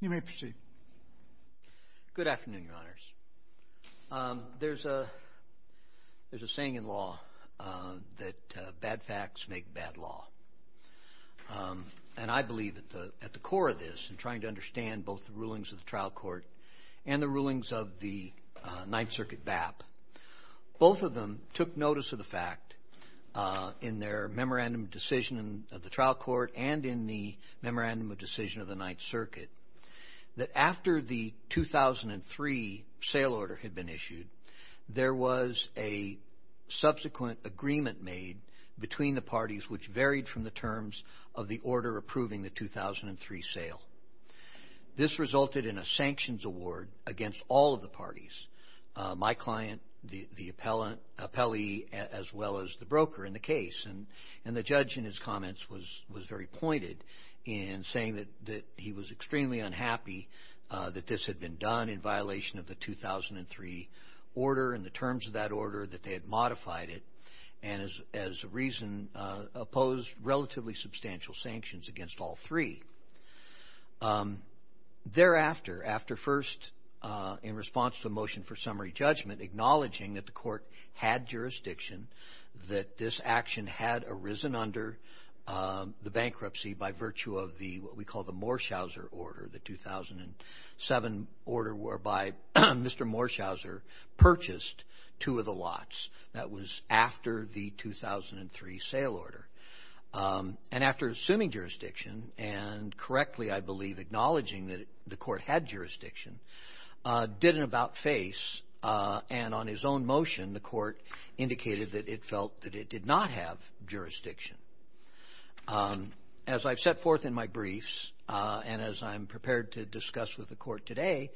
You may proceed. Good afternoon, Your Honors. There's a saying in law that bad facts make bad law. And I believe at the core of this, in trying to understand both the rulings of Ninth Circuit BAP, both of them took notice of the fact in their Memorandum of Decision of the Trial Court and in the Memorandum of Decision of the Ninth Circuit, that after the 2003 sale order had been issued, there was a subsequent agreement made between the parties which varied from the terms of the order approving the 2003 sale. This resulted in a sanctions award against all of the parties, my client, the appellee, as well as the broker in the case. And the judge in his comments was very pointed in saying that he was extremely unhappy that this had been done in violation of the 2003 order and the terms of that order that they had modified it and as a reason opposed relatively substantial sanctions against all three. Thereafter, after first in response to a motion for summary judgment acknowledging that the court had jurisdiction, that this action had arisen under the bankruptcy by virtue of what we call the Morschauser order, the 2007 order whereby Mr. Morschauser purchased two of the lots. That was after the 2003 sale order. And after assuming jurisdiction and correctly, I believe, acknowledging that the court had jurisdiction, did an about-face and on his own motion the court indicated that it felt that it did not have jurisdiction. As I've set forth in my briefs and as I'm prepared to discuss with the court today,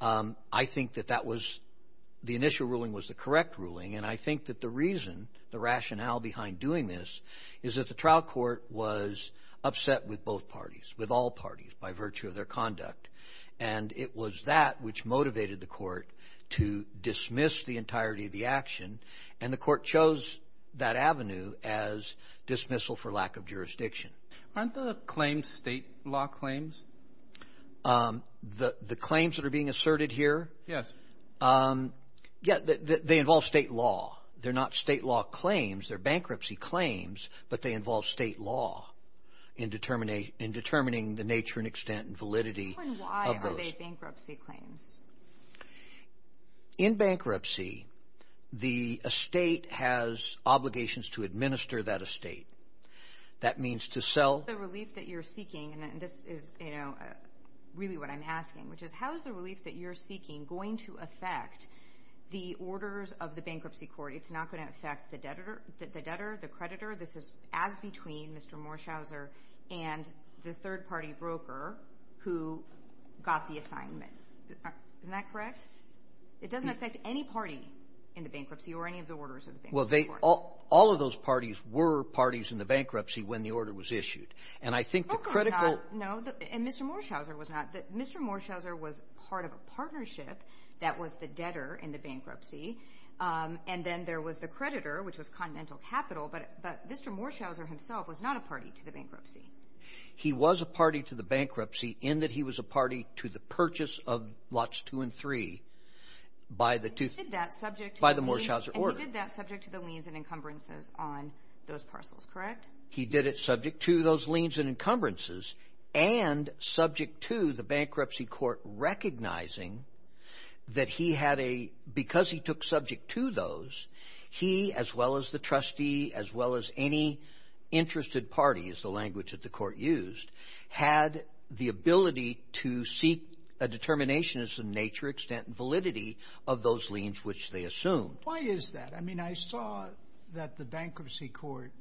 I think that that was the initial ruling was the correct ruling. And I think that the reason, the rationale behind doing this is that the trial court was upset with both parties, with all parties by virtue of their conduct. And it was that which motivated the court to dismiss the entirety of the action. And the court chose that avenue as dismissal for lack of jurisdiction. Aren't the claims state law claims? The claims that are being asserted here? Yes. Yeah, they involve state law. They're not state law claims. They're bankruptcy claims, but they involve state law in determining the nature and extent and validity. Why are they bankruptcy claims? In bankruptcy, the estate has obligations to administer that estate. That means to sell the relief that you're seeking. And this is really what I'm asking, which is how is the relief that you're seeking going to affect the orders of the bankruptcy court? It's not going to affect the debtor, the creditor. This is as between Mr. Morshauser and the third party broker who got the assignment. Isn't that correct? It doesn't affect any party in the bankruptcy or any of the orders of the bank. Well, all of those parties were parties in the bankruptcy when the order was issued. And I think the critical No. And Mr. Morshauser was not. Mr. Morshauser was part of a partnership that was the debtor in the bankruptcy. And then there was the creditor, which was Continental Capital. But Mr. Morshauser himself was not a party to the bankruptcy. He was a party to the bankruptcy in that he was a party to the purchase of lots two and three by the two Morshauser order. And he did that subject to the liens and encumbrances on those parcels, correct? He did it subject to those liens and encumbrances and subject to the bankruptcy court recognizing that he had a, because he took subject to those, he, as well as the trustee, as well as any interested parties, the language that the court used, had the ability to seek a determination as to the nature, extent, and validity of those liens, which they assumed. Why is that? I mean, I saw that the bankruptcy court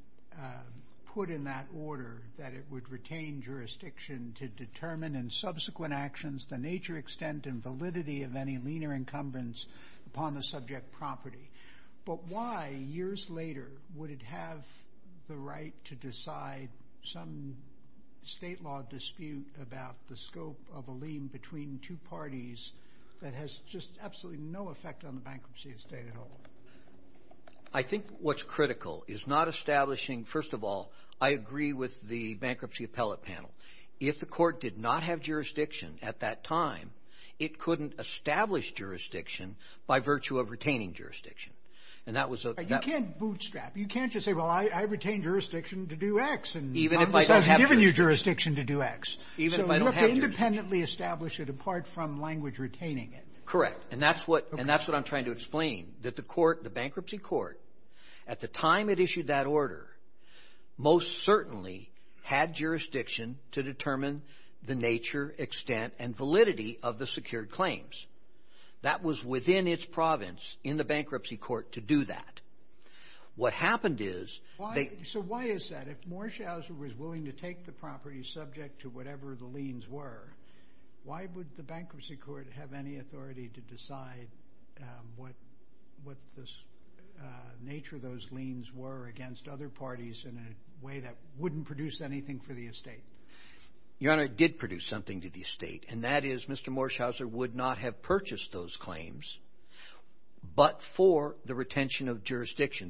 put in that order that it would retain jurisdiction to determine in subsequent actions the nature, extent, and validity of any lien or encumbrance upon the subject property. But why, years later, would it have the right to decide some state law dispute about the scope of a lien between two parties that has just absolutely no effect on the bankruptcy of the state at all? I think what's critical is not establishing, first of all, I agree with the bankruptcy appellate panel. If the court did not have jurisdiction at that time, it couldn't establish jurisdiction by virtue of retaining jurisdiction. And that was a... You can't just say, well, I retain jurisdiction to do X. Even if I don't have jurisdiction. I've given you jurisdiction to do X. Even if I don't have jurisdiction. So you have to independently establish it apart from language retaining it. Correct. And that's what I'm trying to explain, that the court, the bankruptcy court, at the time it issued that order, most certainly had jurisdiction to determine the nature, extent, and validity of the secured claims. That was within its province in the bankruptcy court to do that. What happened is... So why is that? If Morshauser was willing to take the property subject to whatever the liens were, why would the bankruptcy court have any authority to decide what the nature of those liens were against other parties in a way that wouldn't produce anything for the estate? Your Honor, it did produce something to the estate. And that is, Mr. Morshauser would not have purchased those claims but for the retention of jurisdiction.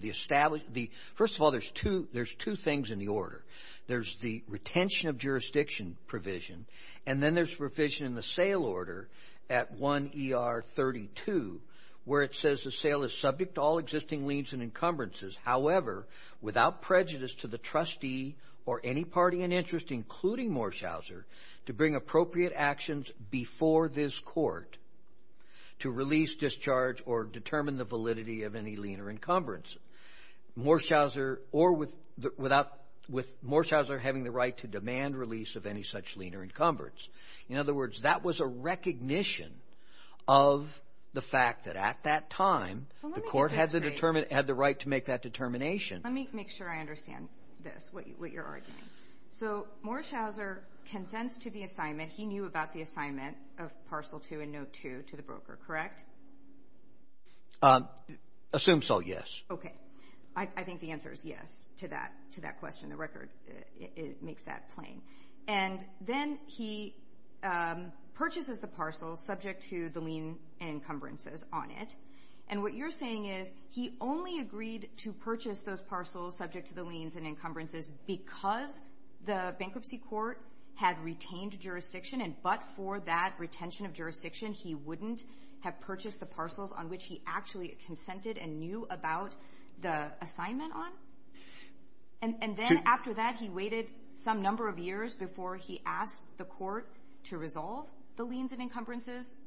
First of all, there's two things in the order. There's the retention of jurisdiction provision. And then there's provision in the sale order at 1 ER 32 where it says the sale is subject to all existing liens and encumbrances. However, without prejudice to the trustee or any party in interest, including Morshauser, to bring appropriate actions before this Court to release, discharge, or determine the validity of any lien or encumbrance, Morshauser or without the — with Morshauser having the right to demand release of any such lien or encumbrance. In other words, that was a recognition of the fact that at that time the Court had the right to make that determination. Well, let me get this straight. Let me make sure I understand this, what you're arguing. So Morshauser consents to the assignment. He knew about the assignment of Parcel 2 and Note 2 to the broker, correct? Assume so, yes. Okay. I think the answer is yes to that question. The record makes that plain. And then he purchases the parcels subject to the lien and encumbrances on it. And what you're saying is he only agreed to purchase those parcels subject to the liens and encumbrances because the bankruptcy court had retained jurisdiction, and but for that retention of jurisdiction, he wouldn't have purchased the parcels on which he actually consented and knew about the assignment on? And then after that, he waited some number of years before he asked the Court to resolve the liens and encumbrances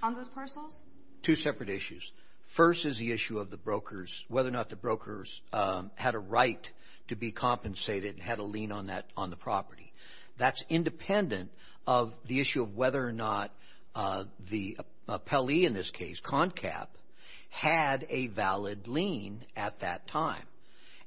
on those parcels? Two separate issues. First is the issue of the brokers, whether or not the brokers had a right to be compensated and had a lien on that, on the property. That's independent of the issue of whether or not the appellee in this case, CONCAP, had a valid lien at that time.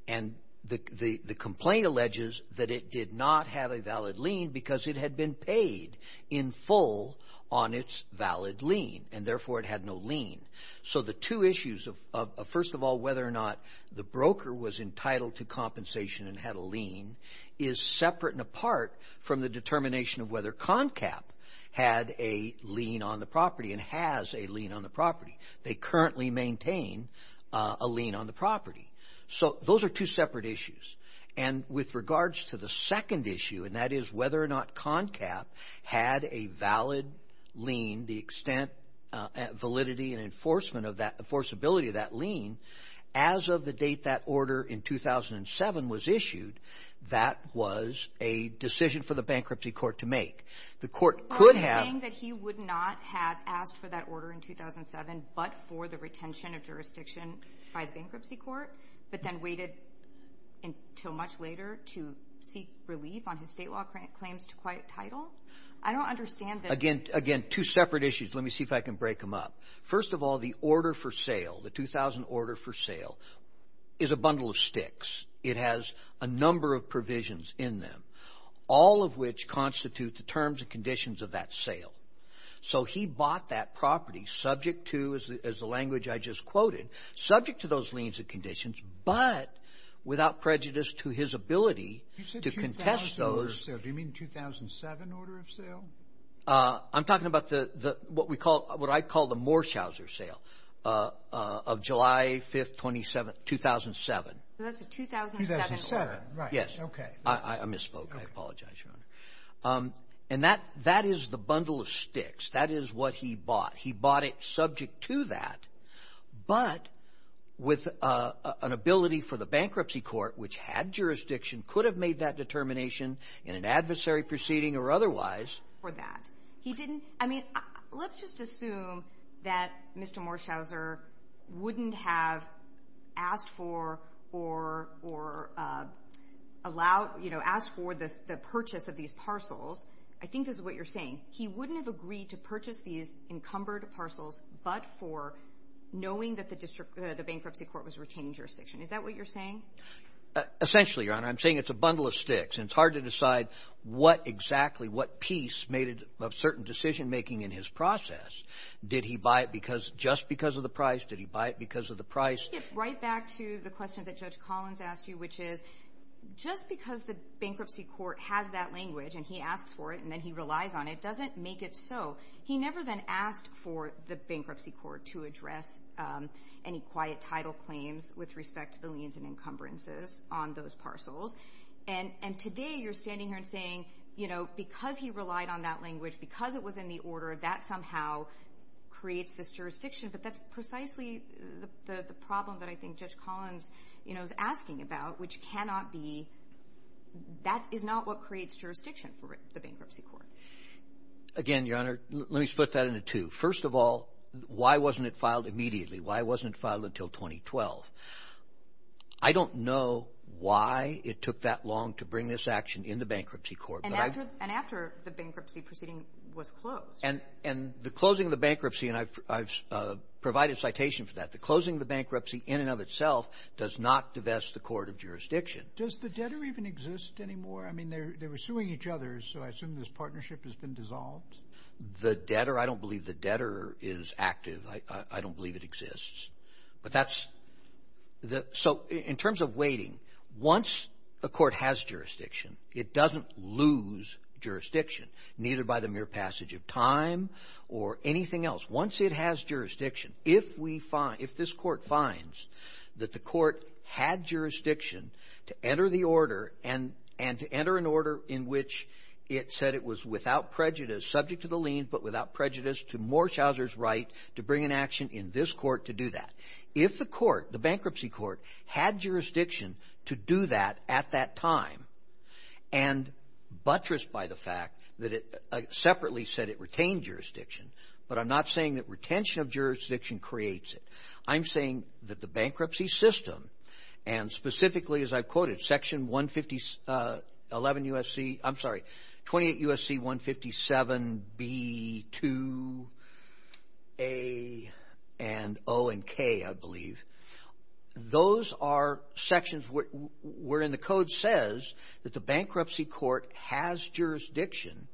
And the complaint alleges that it did not have a valid lien because it had been paid in full on its valid lien, and therefore it had no lien. So the two issues of, first of all, whether or not the broker was entitled to compensation and had a lien is separate and apart from the determination of whether CONCAP had a lien on the property and has a lien on the property. They currently maintain a lien on the property. So those are two separate issues. And with regards to the second issue, and that is whether or not CONCAP had a valid lien, the extent, validity and enforceability of that lien, as of the date that order in 2007 was issued, that was a decision for the Bankruptcy Court to make. The Court could have... until much later to seek relief on his state law claims to quite title. I don't understand that... Again, two separate issues. Let me see if I can break them up. First of all, the order for sale, the 2000 order for sale, is a bundle of sticks. It has a number of provisions in them, all of which constitute the terms and conditions of that sale. So he bought that property subject to, as the language I just quoted, subject to those liens and conditions without prejudice to his ability to contest those... You said 2007 order of sale. Do you mean 2007 order of sale? I'm talking about what I call the Morshauser sale of July 5th, 2007. That's the 2007 order. Yes. I misspoke. I apologize, Your Honor. And that is the bundle of sticks. That is what he bought. He bought it subject to that, but with an ability for the Bankruptcy Court, which had jurisdiction, could have made that determination in an adversary proceeding or otherwise. For that. He didn't... I mean, let's just assume that Mr. Morshauser wouldn't have asked for or allowed, you know, asked for the purchase of these parcels. I think this is what you're saying. He wouldn't have agreed to purchase these encumbered parcels but for knowing that the Bankruptcy Court was retaining jurisdiction. Is that what you're saying? Essentially, Your Honor. I'm saying it's a bundle of sticks, and it's hard to decide what exactly, what piece made it a certain decision-making in his process. Did he buy it just because of the price? Did he buy it because of the price? Right back to the question that Judge Collins asked you, which is, just because the Bankruptcy Court has that language and he asks for it and then he relies on it doesn't make it so. He never then asked for the Bankruptcy Court to address any quiet title claims with respect to the liens and encumbrances on those parcels. And today, you're standing here and saying, you know, because he relied on that language, because it was in the order, that somehow creates this jurisdiction. But that's precisely the problem that I think Judge Collins is asking about, which cannot be, that is not what creates jurisdiction for the Bankruptcy Court. Again, Your Honor, let me split that into two. First of all, why wasn't it filed immediately? Why wasn't it filed until 2012? I don't know why it took that long to bring this action in the Bankruptcy Court. And after the bankruptcy proceeding was closed. And the closing of the bankruptcy, and I've provided citation for that, the closing of the bankruptcy in and of itself does not divest the court of jurisdiction. Does the debtor even exist anymore? I mean, they were suing each other, so I assume this partnership has been dissolved? The debtor, I don't believe the debtor is active. I don't believe it exists. But that's, so in terms of waiting, once a court has jurisdiction, it doesn't lose jurisdiction, neither by the mere passage of time or anything else. Once it has jurisdiction, if we find, if this court finds that the court had jurisdiction to enter the order and to enter an order in which it said it was without prejudice subject to the lien, but without prejudice to Morshauser's right to bring an action in this court to do that. If the court, the Bankruptcy Court, had jurisdiction to do that at that time and buttressed by the fact that it separately said it retained jurisdiction, but I'm not saying that retention of jurisdiction creates it. I'm saying that the bankruptcy system, and specifically, as I've quoted, Section 150, 11 U.S.C., I'm sorry, 28 U.S.C., 157 B, 2 A, and O, and K, I believe. Those are sections wherein the code says that the Bankruptcy Court has jurisdiction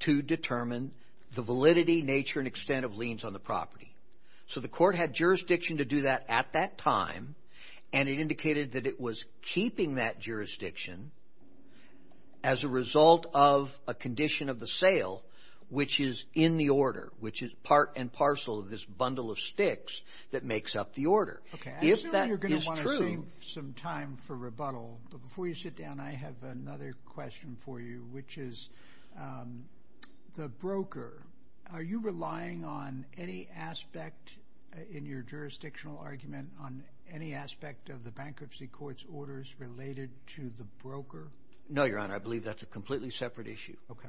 to determine the validity, nature, and extent of liens on the property. So the court had jurisdiction to do that at that time, and it indicated that it was keeping that jurisdiction as a result of a condition of the sale, which is in the order, which is part and parcel of this bundle of sticks that makes up the order. If that is true... I know you're going to want to save some time for rebuttal, but before you sit down, I have another question for you, which is, the broker, are you relying on any aspect in your jurisdictional argument on any aspect of the Bankruptcy Court's orders related to the broker? No, Your Honor, I believe that's a completely separate issue. Okay.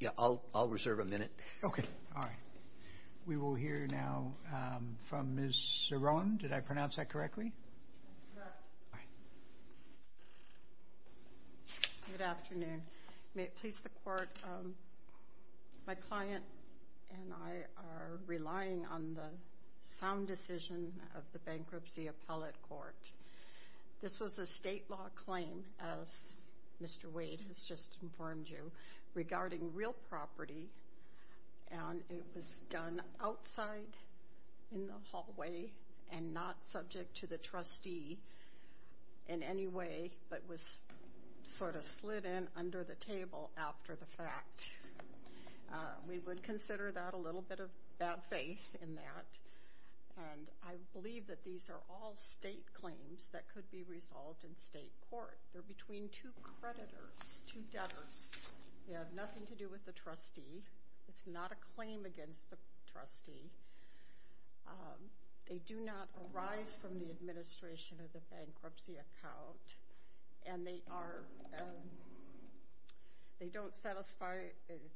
Yeah, I'll reserve a minute. Okay, all right. We will hear now from Ms. Cerrone. Did I pronounce that correctly? That's correct. All right. Good afternoon. May it please the Court, my client and I are relying on the sound decision of the Bankruptcy Appellate Court. This was a state law claim, as Mr. Wade has just informed you, regarding real property, and it was done outside in the way, but was sort of slid in under the table after the fact. We would consider that a little bit of bad faith in that, and I believe that these are all state claims that could be resolved in state court. They're between two creditors, two debtors. They have nothing to do with the trustee. It's not a claim against the trustee. They do not arise from the administration of the bankruptcy account, and they don't satisfy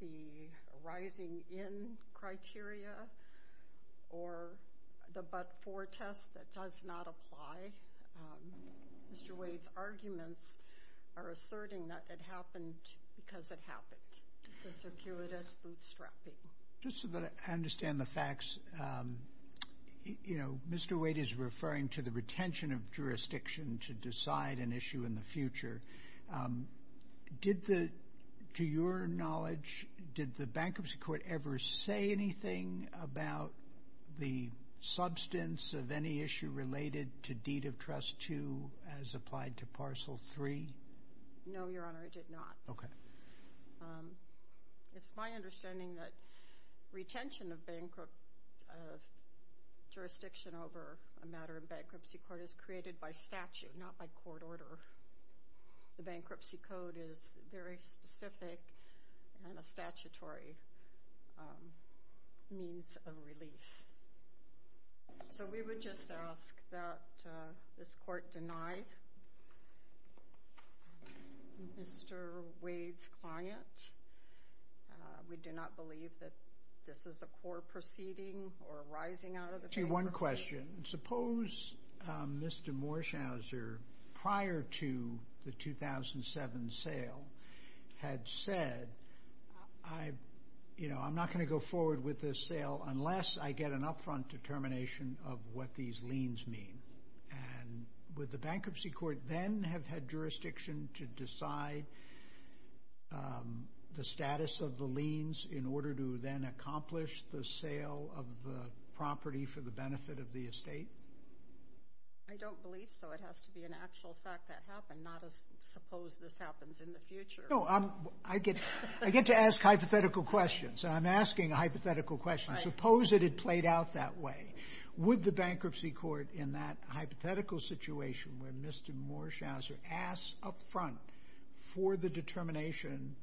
the rising in criteria or the but-for test that does not apply. Mr. Wade's arguments are asserting that it happened because it happened. It's a circuitous bootstrapping. Just so that I understand the facts, you know, Mr. Wade is referring to the retention of jurisdiction to decide an issue in the future. Did the, to your knowledge, did the Bankruptcy Court ever say anything about the substance of any issue related to Deed of Trust 2 as applied to Parcel 3? No, Your Honor, it did not. It's my understanding that retention of bankruptcy jurisdiction over a matter of Bankruptcy Court is created by statute, not by court order. The Bankruptcy Code is very specific and a statutory means of relief. So we would just ask that this court deny Mr. Wade's client. We do not believe that this is a core proceeding or rising out of the bank. I'll ask you one question. Suppose Mr. Morshauser, prior to the 2007 sale, had said, you know, I'm not going to go forward with this sale unless I get an upfront determination of what these are, and would the Bankruptcy Court then have had jurisdiction to decide the status of the liens in order to then accomplish the sale of the property for the benefit of the estate? I don't believe so. It has to be an actual fact that happened, not a suppose this happens in the future. No, I get to ask hypothetical questions. I'm asking a hypothetical question. Suppose that it played out that way. Would the Bankruptcy Court, in that hypothetical situation where Mr. Morshauser asked upfront for the determination,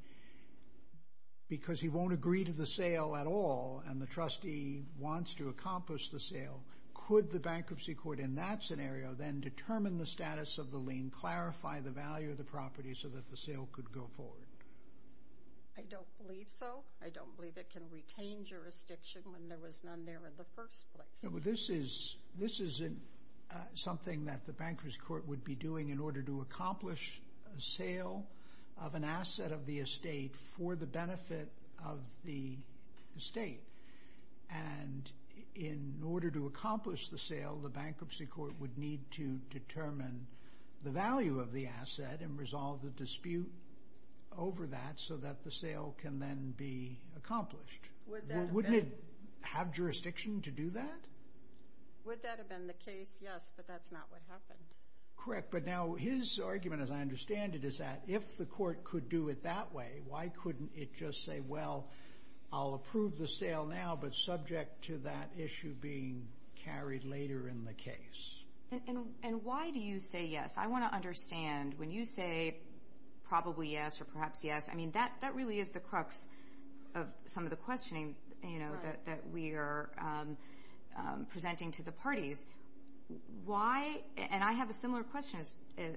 because he won't agree to the sale at all and the trustee wants to accomplish the sale, could the Bankruptcy Court in that scenario then determine the status of the lien, clarify the value of the property so that the sale could go forward? I don't believe so. I don't believe it can retain jurisdiction when there was none there in the first place. This isn't something that the Bankruptcy Court would be doing in order to accomplish the sale of an asset of the estate for the benefit of the estate. And in order to accomplish the sale, the Bankruptcy Court would need to have jurisdiction over that so that the sale can then be accomplished. Wouldn't it have jurisdiction to do that? Would that have been the case? Yes, but that's not what happened. Correct. But now his argument, as I understand it, is that if the court could do it that way, why couldn't it just say, well, I'll approve the sale now, but subject to that issue being carried later in the case? And why do you say yes? I want to understand. When you say probably yes or perhaps yes, I mean, that really is the crux of some of the questioning that we are presenting to the parties. And I have a similar question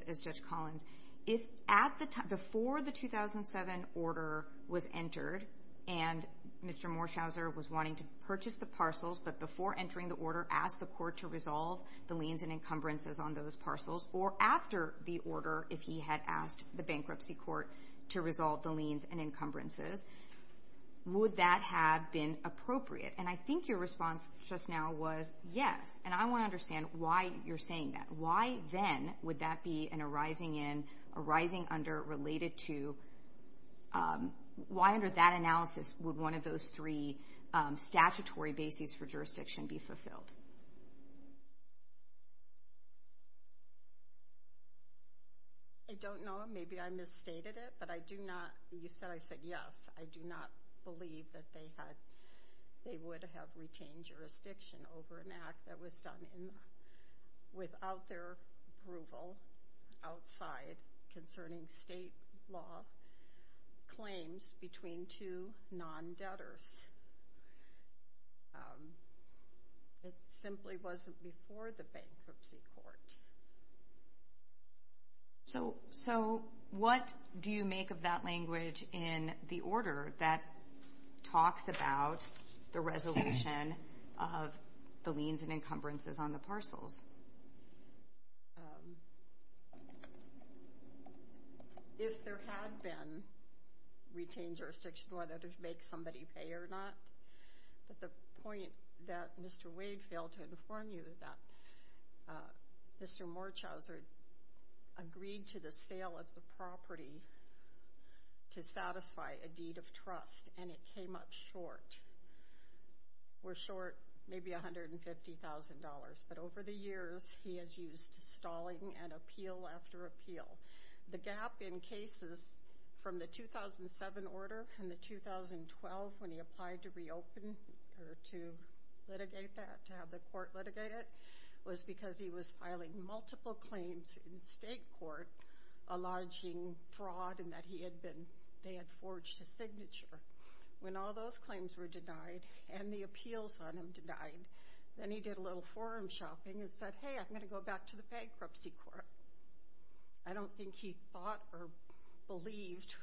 as Judge Collins. Before the 2007 order was entered and Mr. Morshauser was wanting to purchase the parcels, but before entering the order asked the court to resolve the liens and encumbrances on those parcels, or after the order if he had asked the Bankruptcy Court to resolve the liens and encumbrances, would that have been appropriate? And I think your response just now was yes. And I want to understand why you're saying that. Why then would that be an arising under related to, why under that analysis would one of those three statutory bases for jurisdiction be fulfilled? I don't know. Maybe I misstated it, but I do not, you said I said yes. I do not believe that they would have retained jurisdiction over an act that was done without their approval outside concerning state law claims between two non-debtors. It simply wasn't before the Bankruptcy Court. So what do you make of that language in the order that talks about the resolution of the liens and encumbrances on the parcels? Yes. If there had been retained jurisdiction, whether to make somebody pay or not, but the point that Mr. Wade failed to inform you that Mr. Morchauser agreed to the sale of the property to satisfy a deed of trust, and it came up short, were short maybe $150,000. But over the years, he has used stalling and appeal after appeal. The gap in cases from the 2007 order and the 2012 when he applied to reopen or to litigate that, to have the court litigate it, was because he was filing multiple claims in state court alleging fraud and that he had been, they had forged a signature. When all those claims were denied and the appeals on him denied, then he did a little forum shopping and said, hey, I'm going to go back to the Bankruptcy Court. I don't think he thought or believed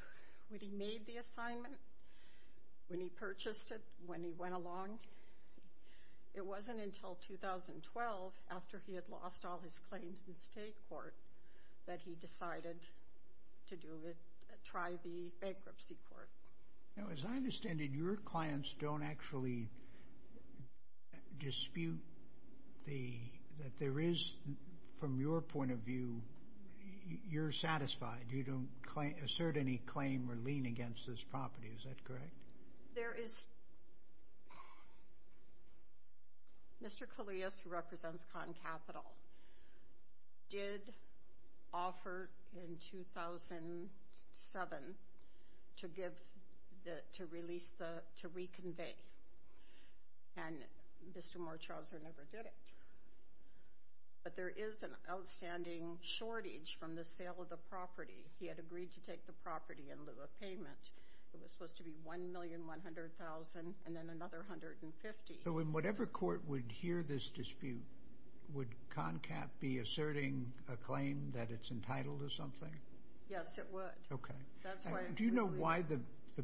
when he made the assignment, when he purchased it, when he went along. It wasn't until 2012, after he had lost all his claims in state court, that he decided to try the Bankruptcy Court. Now, as I understand it, your clients don't actually dispute that there is, from your point of view, you're satisfied. You don't assert any claim or lean against this property. Is that correct? There is... Mr. Collias, who represents ConCapital, did offer in 2007 to give, to release, to reconvey, and Mr. Mortrauser never did it. But there is an outstanding shortage from the sale of the property. He had agreed to take the property in lieu of payment. It was supposed to be $1,100,000 and then another $150,000. In whatever court would hear this dispute, would ConCap be asserting a claim that it's entitled to something? Yes, it would. Do you know why the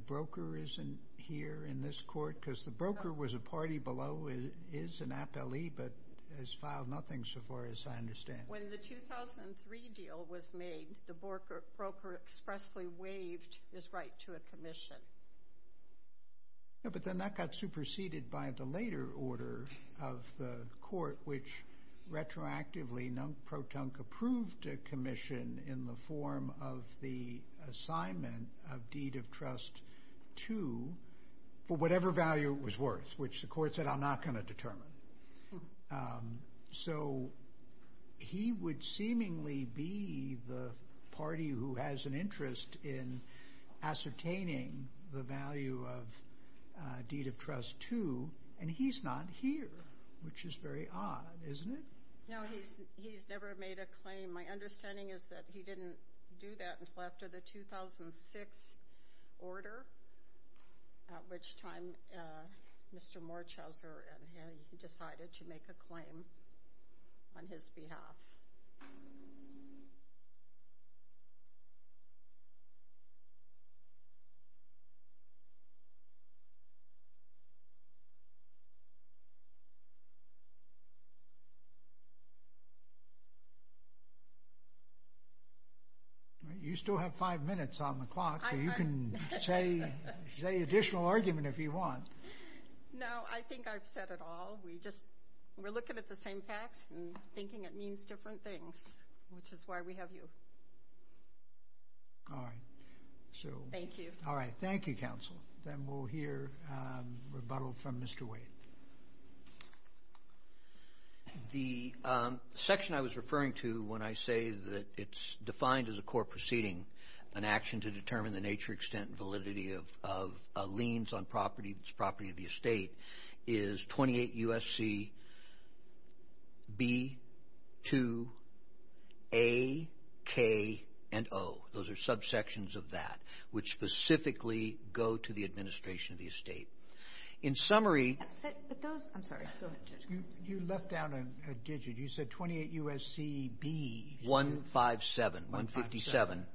broker isn't here in this court? Because the broker was a party below, is an appellee, but has filed nothing so far as I understand. When the 2003 deal was made, the broker expressly waived his right to a commission. But then that got superseded by the later order of the court, which retroactively ProTunk approved a commission in the form of the assignment of Deed of Trust 2 for whatever value it was worth, which the court said, I'm not going to determine. So he would seemingly be the party who has an interest in ascertaining the value of Deed of Trust 2, and he's not here, which is very odd, isn't it? No, he's never made a claim. My understanding is that he didn't do that until after the 2006 order, at which time Mr. Morchauser decided to make a claim on his behalf. You still have five minutes on the clock, so you can say an additional argument if you want. No, I think I've said it all. We're looking at the same facts and thinking it means different things, which is why we have you. Thank you. All right, thank you, counsel. Then we'll hear rebuttal from Mr. Wade. The section I was referring to when I say that it's defined as a court proceeding, an action to determine the nature, extent, and validity of liens on property, the property of the estate, is 28 U.S.C. B, 2, A, K, and O. Those are subsections of that, which specifically go to the administration of the estate. In summary— I'm sorry, go ahead, Judge. You left out a digit. You said 28 U.S.C. B— 157. 157.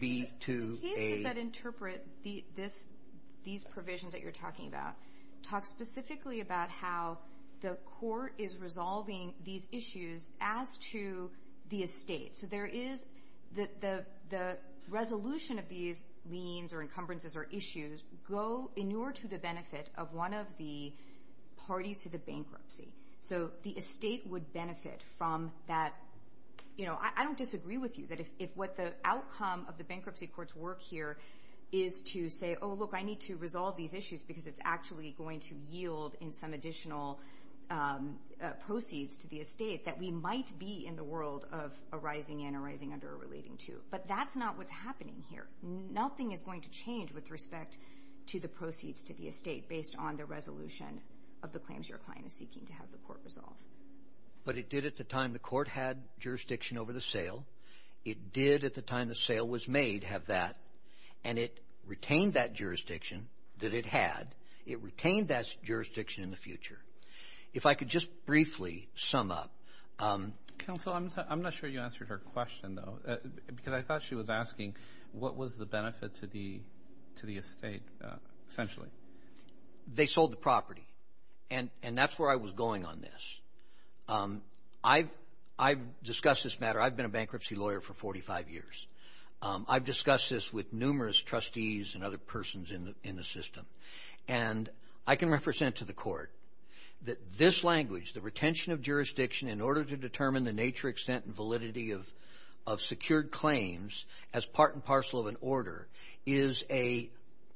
B, 2, A— The pieces that interpret these provisions that you're talking about talk specifically about how the court is resolving these issues as to the estate. So there is the resolution of these liens or encumbrances or issues go in order to the benefit of one of the parties to the bankruptcy. So the estate would benefit from that. I don't disagree with you that if what the outcome of the bankruptcy court's work here is to say, Oh, look, I need to resolve these issues because it's actually going to yield in some additional proceeds to the estate that we might be in the world of a rising and a rising under a relating to. But that's not what's happening here. Nothing is going to change with respect to the proceeds to the estate based on the resolution of the claims your client is seeking to have the court resolve. But it did at the time the court had jurisdiction over the sale. It did at the time the sale was made have that. And it retained that jurisdiction that it had. It retained that jurisdiction in the future. If I could just briefly sum up. Counsel, I'm not sure you answered her question, though, because I thought she was asking what was the benefit to the estate, essentially. They sold the property. And that's where I was going on this. I've discussed this matter. I've been a bankruptcy lawyer for 45 years. I've discussed this with numerous trustees and other persons in the system. And I can represent to the court that this language, the retention of jurisdiction, in order to determine the nature, extent, and validity of secured claims as part and parcel of an order, is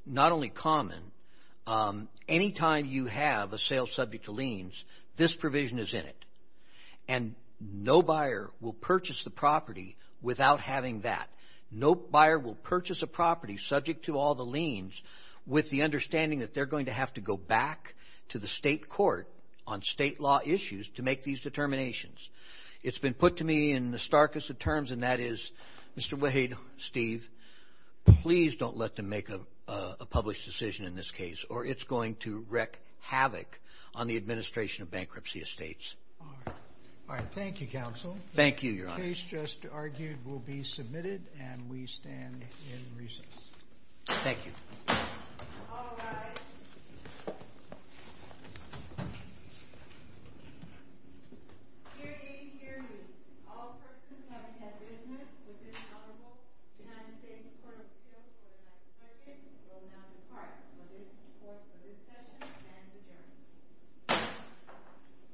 not only common, anytime you have a sale subject to liens, this provision is in it. And no buyer will purchase the property without having that. No buyer will purchase a property subject to all the liens with the understanding that they're going to have to go back to the State court on State law issues to make these determinations. It's been put to me in the starkest of terms, and that is, Mr. Wade, Steve, please don't let them make a published decision in this case, or it's going to wreck havoc on the administration of bankruptcy estates. All right. Thank you, counsel. Thank you, Your Honor. The case just argued will be submitted, and we stand in recess. Thank you. All rise. Hear ye, hear ye. All persons having had business with this honorable United States Court of Appeals for the next circuit will now depart for business court for this session and adjourn.